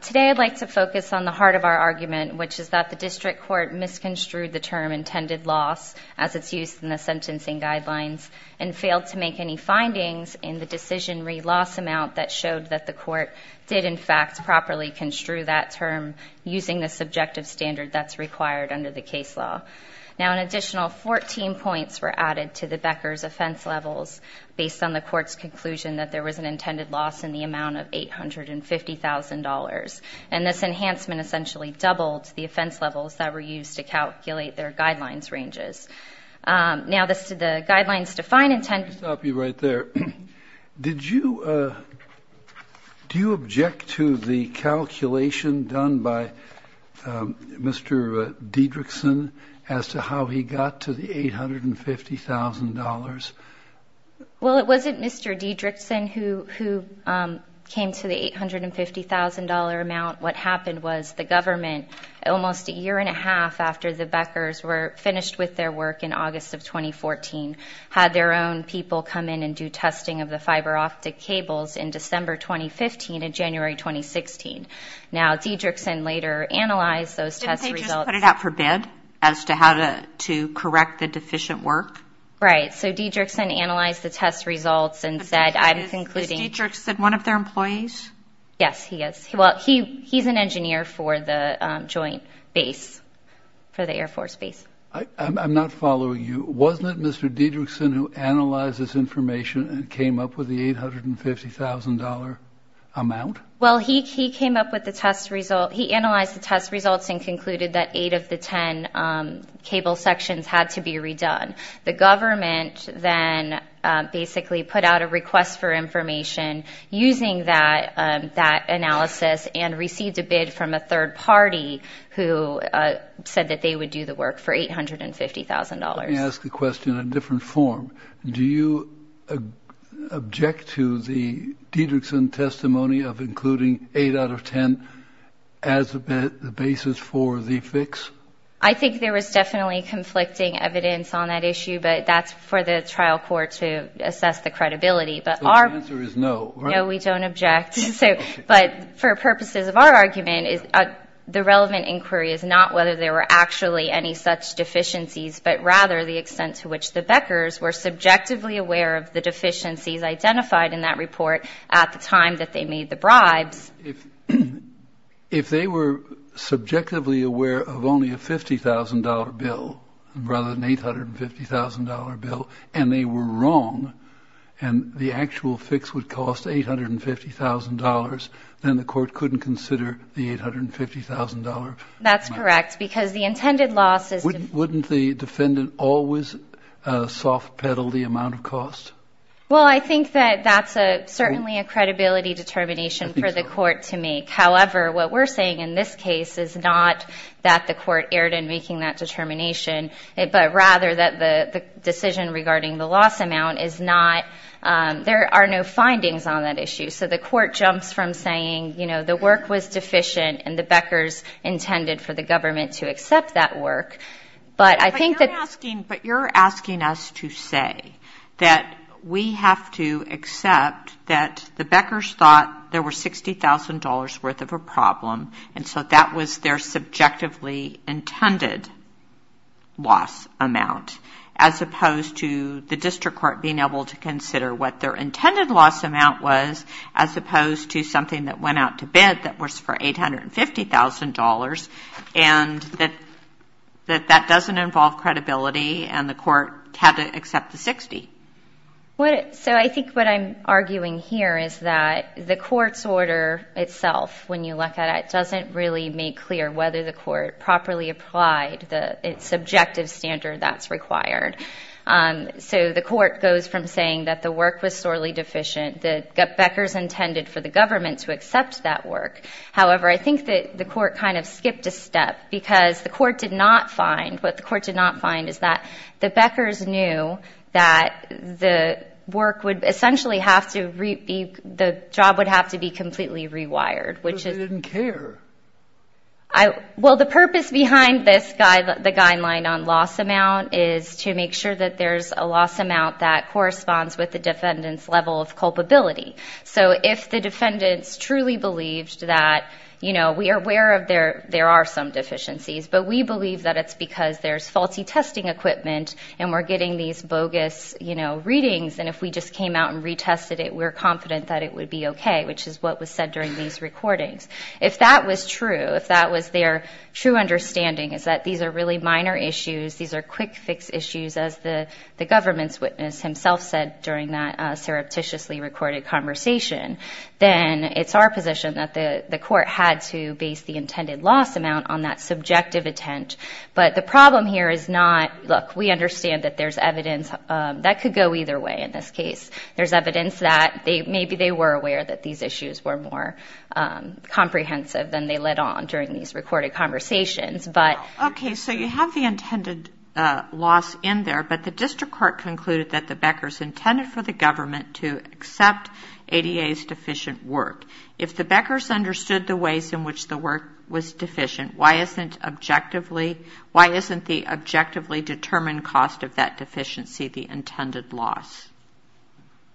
Today I'd like to focus on the heart of our argument, which is that the District Court misconstrued the term intended loss, as it's used in the sentencing guidelines, and failed to make any findings in the decision re-loss amount that showed that the Court did in fact properly construe that term using the subjective standard that's required under the case law. Now an additional 14 points were added to the Becker's offense levels based on the Court's conclusion that there was an intended loss in the amount of $850,000, and this enhancement essentially doubled the offense levels that were used to calculate their guidelines ranges. Now the guidelines define intended loss. I'll stop you right there. Did you object to the calculation done by Mr. Diedrichson as to how he got to the $850,000? Well, it wasn't Mr. Diedrichson who came to the $850,000 amount. What happened was the government, almost a year and a half after the Beckers were finished with their work in August of 2014, had their own people come in and do testing of the fiber-optic cables in December 2015 and January 2016. Now Diedrichson later analyzed those test results. Didn't they just put it out for bid as to how to correct the deficient work? Right. So Diedrichson analyzed the test results and said, I'm concluding... Is Diedrichson one of their employees? Yes, he is. Well, he's an engineer for the joint base, for the Air Force Base. I'm not following you. Wasn't it Mr. Diedrichson who analyzed this information and came up with the $850,000 amount? Well, he came up with the test result. He analyzed the test results and concluded that eight of the 10 cable sections had to be redone. The government then basically put out a request for information using that analysis and received a bid from a third party who said that they would do the work for $850,000. Let me ask the question in a different form. Do you object to the Diedrichson testimony of including eight out of 10 as the basis for the fix? I think there was definitely conflicting evidence on that issue, but that's for the trial court to assess the credibility. So the answer is no, right? No, we don't object. But for purposes of our argument, the relevant inquiry is not whether there were actually any such deficiencies, but rather the extent to which the Beckers were subjectively aware of the deficiencies identified in that report at the time that they made the bribes. If they were subjectively aware of only a $50,000 bill rather than $850,000 bill and they were wrong and the actual fix would cost $850,000, then the court couldn't consider the $850,000. That's correct, because the intended loss is... Wouldn't the defendant always soft-pedal the amount of cost? Well, I think that that's certainly a credibility determination for the court to make. However, what we're saying in this case is not that the court erred in making that determination, but rather that the decision regarding the loss amount is not... There are no findings on that issue. So the court jumps from saying, you know, the work was deficient and the Beckers intended for the government to accept that work, but I think that... We have to accept that the Beckers thought there were $60,000 worth of a problem and so that was their subjectively intended loss amount as opposed to the district court being able to consider what their intended loss amount was as opposed to something that went out to bid that was for $850,000 and that that doesn't involve credibility and the court had to accept the $60,000. So I think what I'm arguing here is that the court's order itself, when you look at it, doesn't really make clear whether the court properly applied the subjective standard that's required. So the court goes from saying that the work was sorely deficient, the Beckers intended for the government to accept that work. However, I think that the court kind of skipped a step because the court did not find... The Beckers knew that the work would essentially have to be... The job would have to be completely rewired, which is... But they didn't care. Well, the purpose behind this guideline on loss amount is to make sure that there's a loss amount that corresponds with the defendant's level of culpability. So if the defendants truly believed that, you know, we are aware of there are some deficiencies, but we believe that it's because there's faulty testing equipment and we're getting these bogus readings, and if we just came out and retested it, we're confident that it would be okay, which is what was said during these recordings. If that was true, if that was their true understanding, is that these are really minor issues, these are quick fix issues, as the government's witness himself said during that surreptitiously recorded conversation, then it's our position that the court had to base the intended loss amount on that subjective intent. But the problem here is not, look, we understand that there's evidence that could go either way in this case. There's evidence that maybe they were aware that these issues were more comprehensive than they let on during these recorded conversations, but... Okay, so you have the intended loss in there, but the district court concluded that the Beckers intended for the government to accept ADA's deficient work. If the Beckers understood the ways in which the work was deficient, why isn't the objectively determined cost of that deficiency the intended loss?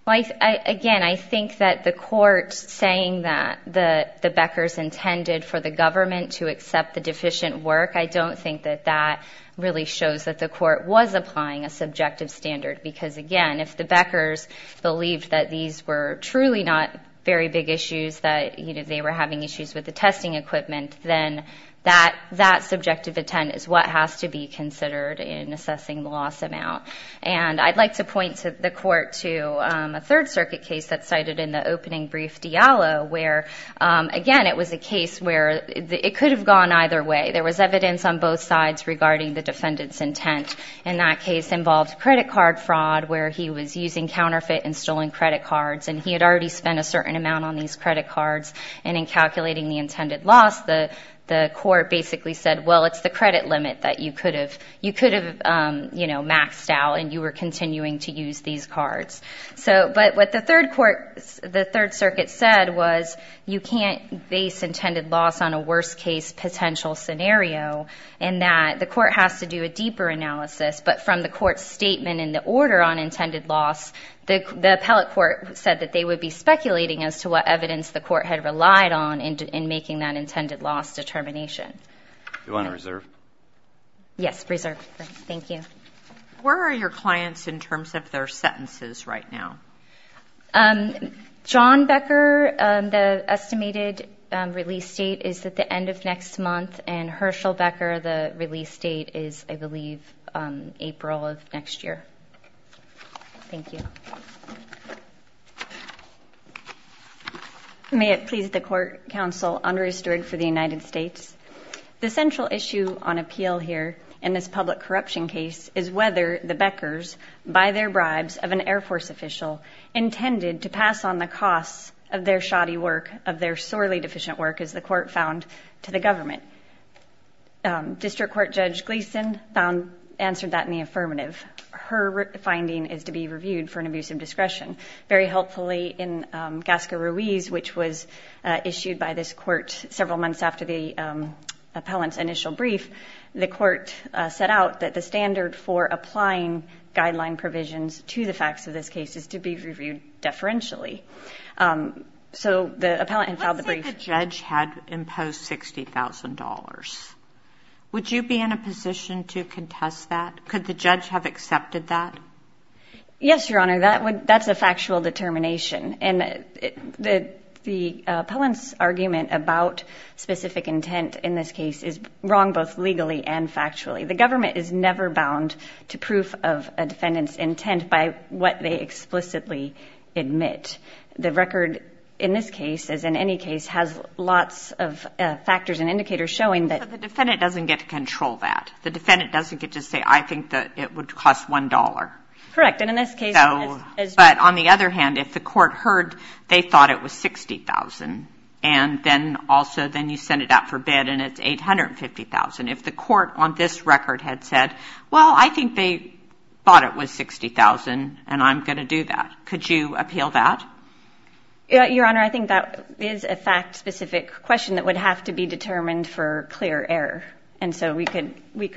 Again, I think that the court saying that the Beckers intended for the government to accept the deficient work, I don't think that that really shows that the court was applying a subjective standard, because again, if the Beckers believed that these were truly not very big issues, that they were having issues with the testing equipment, then that subjective intent is what has to be considered in assessing the loss amount. And I'd like to point the court to a Third Circuit case that's cited in the opening brief diallo, where again, it was a case where it could have gone either way. There was evidence on both sides regarding the defendant's intent. And that case involved credit card fraud, where he was using counterfeit and stolen credit cards, and he had already spent a certain amount on these credit cards. And in calculating the intended loss, the court basically said, well, it's the credit limit that you could have maxed out, and you were continuing to use these cards. But what the Third Circuit said was, you can't base intended loss on a worst-case potential scenario, and that the court has to do a deeper analysis. But from the court's statement in the order on intended loss, the appellate court said that they would be speculating as to what evidence the court had relied on in making that intended loss determination. Do you want to reserve? Yes, reserve. Thank you. Where are your clients in terms of their sentences right now? John Becker, the estimated release date is at the end of next month, and Herschel Becker, the release date is, I believe, April of next year. Thank you. May it please the Court, Counsel Andrea Stewart for the United States. The central issue on appeal here in this public corruption case is whether the Beckers, by their bribes of an Air Force official, intended to pass on the costs of their shoddy work, of their sorely deficient work, as the court found to the government. District Court Judge Gleason answered that in the affirmative. Her finding is to be reviewed for an abuse of discretion. Very helpfully, in Gasca Ruiz, which was issued by this court several months after the appellant's initial brief, the court set out that the standard for applying guideline provisions to the facts of this case is to be reviewed deferentially. What if the judge had imposed $60,000? Would you be in a position to contest that? Could the judge have accepted that? Yes, Your Honor, that's a factual determination. The appellant's argument about specific intent in this case is wrong both legally and factually. The government is never bound to proof of a defendant's intent by what they explicitly admit. The record in this case, as in any case, has lots of factors and indicators showing that the defendant doesn't get to control that. The defendant doesn't get to say, I think that it would cost $1. Correct. And in this case, so, but on the other hand, if the court heard they thought it was $60,000, and then also then you send it out for bid and it's $850,000. If the court on this record had said, well, I think they thought it was $60,000 and I'm going to do that. Could you appeal that? Your Honor, I think that is a fact-specific question that would have to be determined for clear error. And so we could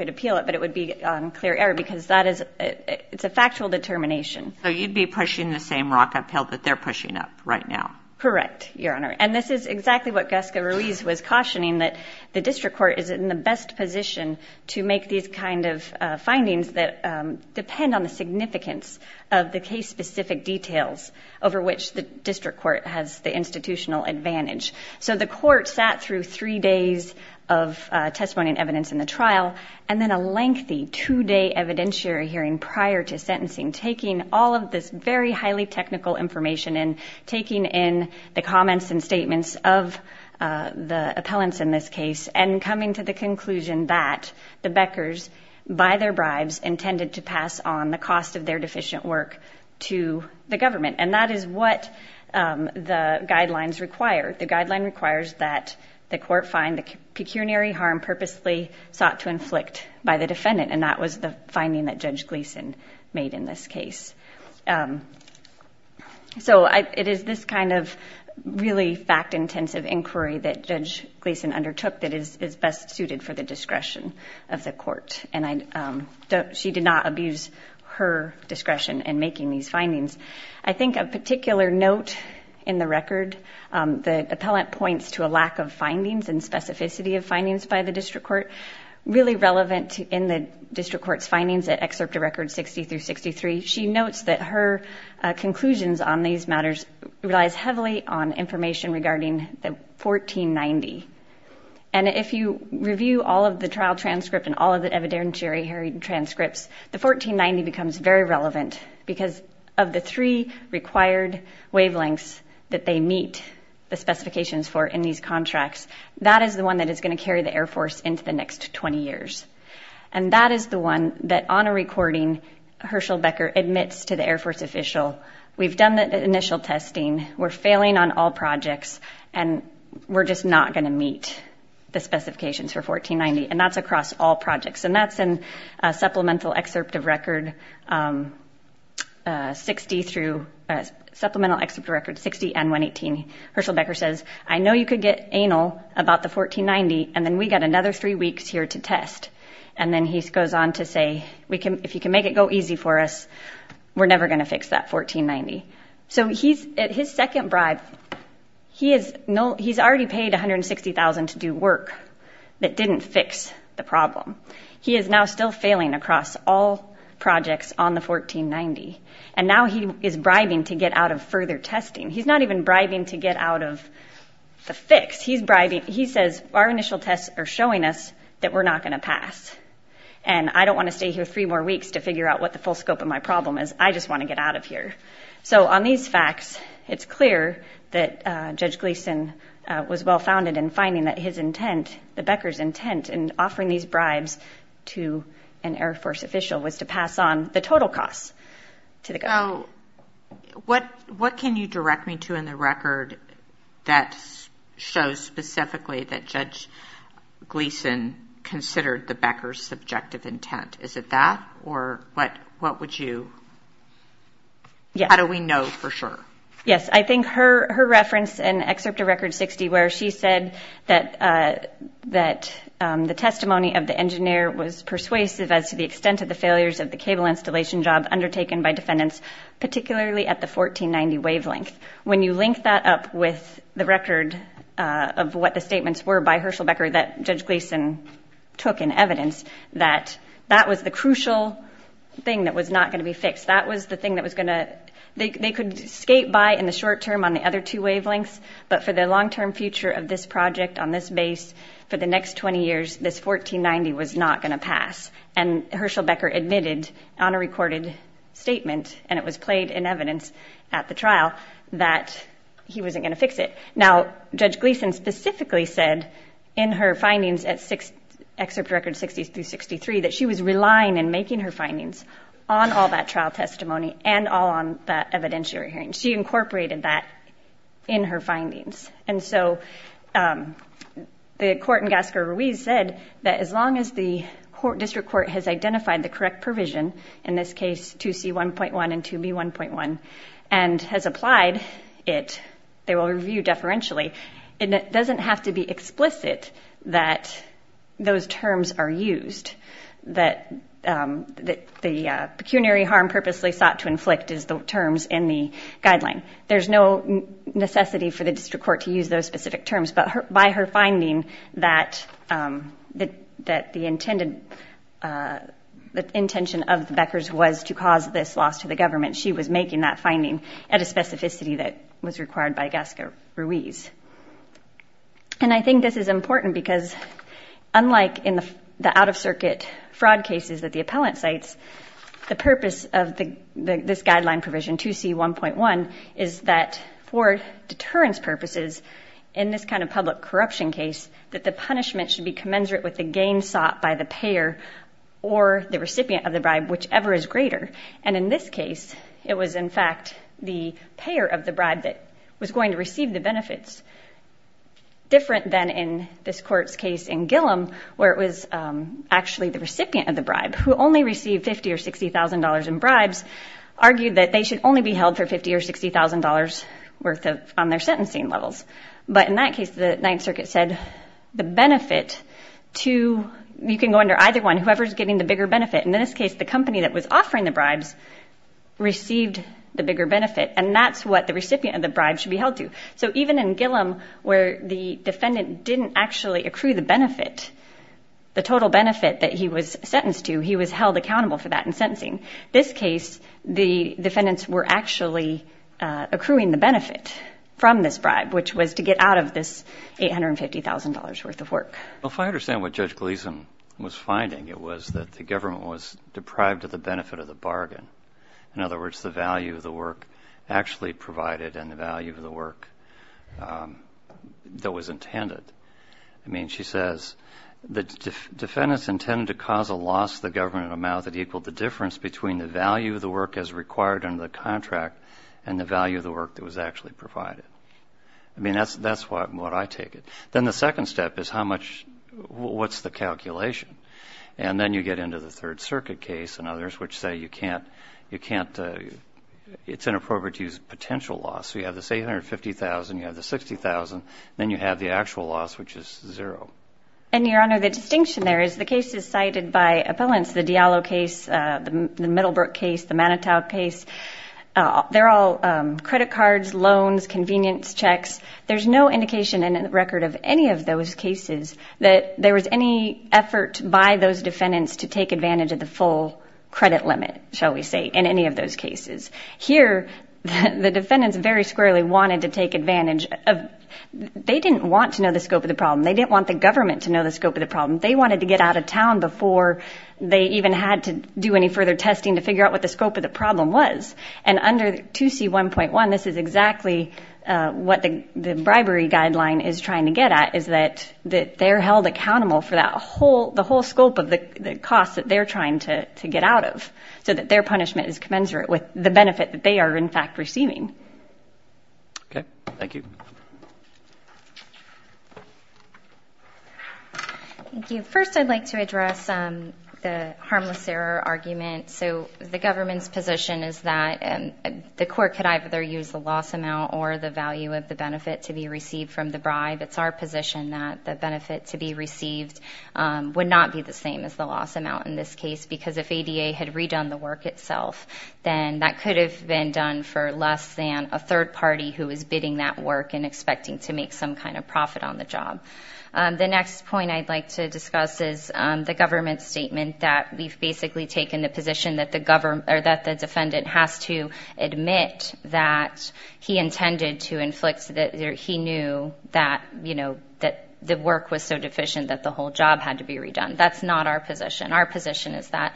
appeal it, but it would be on clear error because that is, it's a factual determination. So you'd be pushing the same rock uphill that they're pushing up right now. Correct, Your Honor. And this is exactly what Gasca-Ruiz was cautioning, that the district court is in the best position to make these kind of findings that depend on the significance of the case-specific details over which the district court has the institutional advantage. So the court sat through three days of testimony and evidence in the trial, and then a lengthy two-day evidentiary hearing prior to sentencing, taking all of this very highly technical information and taking in the comments and statements of the appellants in this case and coming to the conclusion that the Beckers, by their bribes, intended to pass on the cost of their deficient work to the government. And that is what the guidelines require. The guideline requires that the court find the pecuniary harm purposely sought to inflict by the defendant, and that was the finding that Judge Gleeson made in this case. So it is this kind of really fact-intensive inquiry that Judge Gleeson undertook that is best suited for the discretion of the court. And she did not abuse her discretion in making these findings. I think a particular note in the record, the appellant points to a lack of findings and specificity of findings by the district court. Really relevant in the district court's findings at Excerpt of Records 60-63, she notes that her conclusions on these matters relies heavily on information regarding the 1490. And if you review all of the trial transcript and all of the evidentiary transcripts, the 1490 becomes very relevant because of the three required wavelengths that they meet the specifications for in these contracts. That is the one that is going to carry the Air Force into the next 20 years. And that is the one that on a recording, Herschel Becker admits to the Air Force official, we've done the initial testing, we're failing on all projects, and we're just not going to meet the specifications for 1490. And that's across all projects. And that's in Supplemental Excerpt of Record 60 and 118. Herschel Becker says, I know you could get anal about the 1490, and then we've got another three weeks here to test. And then he goes on to say, if you can make it go easy for us, we're never going to fix that 1490. So his second bribe, he's already paid $160,000 to do work that didn't fix the problem. He is now still failing across all projects on the 1490. And now he is bribing to get out of further testing. He's not even bribing to get out of the fix. He's bribing, he says, our initial tests are showing us that we're not going to pass. And I don't want to stay here three more weeks to figure out what the full scope of my problem is. I just want to get out of here. So on these facts, it's clear that Judge Gleason was well-founded in finding that his intent, the Becker's intent in offering these bribes to an Air Force official was to pass on the total costs to the government. What can you direct me to in the record that shows specifically that Judge Gleason considered the Becker's subjective intent? Is it that or what would you, how do we know for sure? Yes. I think her reference in Excerpt of Record 60 where she said that the testimony of the engineer was persuasive as to the extent of the failures of the cable installation job undertaken by defendants, particularly at the 1490 wavelength. When you link that up with the record of what the statements were by Herschel Becker that Judge Gleason took in evidence, that that was the crucial thing that was not going to be fixed. That was the thing that was going to, they could skate by in the short term on the other two wavelengths, but for the long-term future of this project on this base for the next 20 years, this 1490 was not going to pass. And Herschel Becker admitted on a recorded statement, and it was played in evidence at the trial, that he wasn't going to fix it. Now, Judge Gleason specifically said in her findings at Excerpt of Record 60-63 that she was relying and making her findings on all that trial testimony and all on that evidentiary hearing. She incorporated that in her findings. And so the court in Gascar-Ruiz said that as long as the district court has identified the correct provision, in this case 2C1.1 and 2B1.1, and has applied it, they will review deferentially, it doesn't have to be explicit that those terms are used, that the pecuniary harm purposely sought to inflict is the terms in the guideline. There's no necessity for the district court to use those specific terms. But by her finding that the intended, the intention of the Beckers was to cause this loss to the government, she was making that finding at a specificity that was required by Gascar-Ruiz. And I think this is important because unlike in the out-of-circuit fraud cases that the appellant cites, the purpose of this guideline provision, 2C1.1, is that for deterrence purposes, in this kind of public corruption case, that the punishment should be commensurate with the gain sought by the payer or the recipient of the bribe, whichever is greater. And in this case, it was in fact the payer of the bribe that was going to receive the benefits, different than in this court's case in Gillom, where it was actually the recipient of the bribe, who only received $50,000 or $60,000 in bribes, argued that they should only be held for $50,000 or $60,000 worth on their sentencing levels. But in that case, the Ninth Circuit said the benefit to, you can go under either one, whoever is getting the bigger benefit. And in this case, the company that was offering the bribes received the bigger benefit. And that's what the recipient of the bribe should be held to. So even in Gillom, where the defendant didn't actually accrue the benefit, the total benefit that he was sentenced to, he was held accountable for that in sentencing. This case, the defendants were actually accruing the benefit from this bribe, which was to get out of this $850,000 worth of work. Well, if I understand what Judge Gleeson was finding, it was that the government was deprived of the benefit of the bargain. In other words, the value of the work actually provided and the value of the work that was intended. I mean, she says, the defendants intended to cause a loss to the government of an amount that equaled the difference between the value of the work as required under the contract and the value of the work that was actually provided. I mean, that's what I take it. Then the second step is how much, what's the calculation? And then you get into the Third Circuit case and others, which say you can't, you can't, it's inappropriate to use potential loss. So you have this $850,000, you have the $60,000, then you have the actual loss, which is zero. And Your Honor, the distinction there is the case is cited by appellants, the Diallo case, the Middlebrook case, the Manitow case. They're all credit cards, loans, convenience checks. There's no indication in the record of any of those cases that there was any effort by those defendants to take advantage of the full credit limit, shall we say, in any of those cases. Here the defendants very squarely wanted to take advantage of, they didn't want to know the scope of the problem. They didn't want the government to know the scope of the problem. They wanted to get out of town before they even had to do any further testing to figure out what the scope of the problem was. And under 2C1.1, this is exactly what the bribery guideline is trying to get at, is that they're held accountable for that whole, the whole scope of the cost that they're trying to get out of, so that their punishment is commensurate with the benefit that they are in fact receiving. Okay. Thank you. Thank you. First, I'd like to address the harmless error argument. So the government's position is that the court could either use the loss amount or the value of the benefit to be received from the bribe. It's our position that the benefit to be received would not be the same as the loss amount in this case, because if ADA had redone the work itself, then that could have been done for less than a third party who is bidding that work and expecting to make some kind of profit on the job. The next point I'd like to discuss is the government's statement that we've basically taken the position that the defendant has to admit that he intended to inflict, that he knew that the work was so deficient that the whole job had to be redone. That's not our position. Our position is that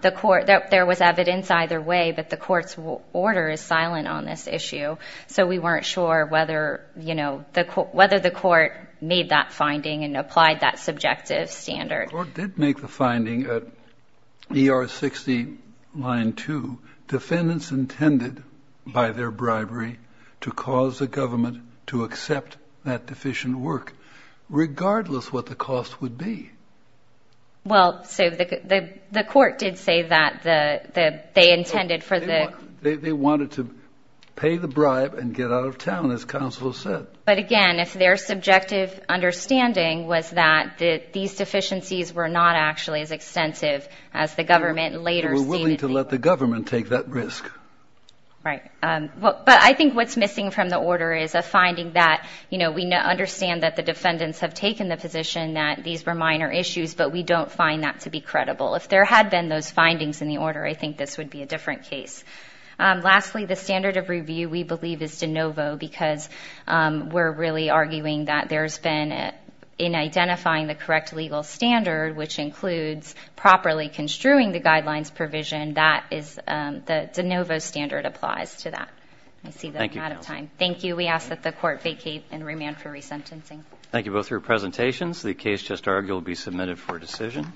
there was evidence either way, but the court's order is silent on this issue, so we weren't sure whether the court made that finding and applied that subjective standard. The court did make the finding at ER 60 line 2, defendants intended by their bribery to cause the government to accept that deficient work, regardless what the cost would be. Well, so the court did say that they intended for the... They wanted to pay the bribe and get out of town, as counsel said. But again, if their subjective understanding was that these deficiencies were not actually as extensive as the government later stated... They were willing to let the government take that risk. Right. But I think what's missing from the order is a finding that, you know, we understand that the defendants have taken the position that these were minor issues, but we don't find that to be credible. If there had been those findings in the order, I think this would be a different case. Lastly, the standard of review, we believe, is de novo because we're really arguing that there's been, in identifying the correct legal standard, which includes properly construing the guidelines provision, that is the de novo standard applies to that. Thank you. I see that I'm out of time. Thank you. We ask that the court vacate and remand for resentencing. Thank you both for your presentations. The case just argued will be submitted for decision.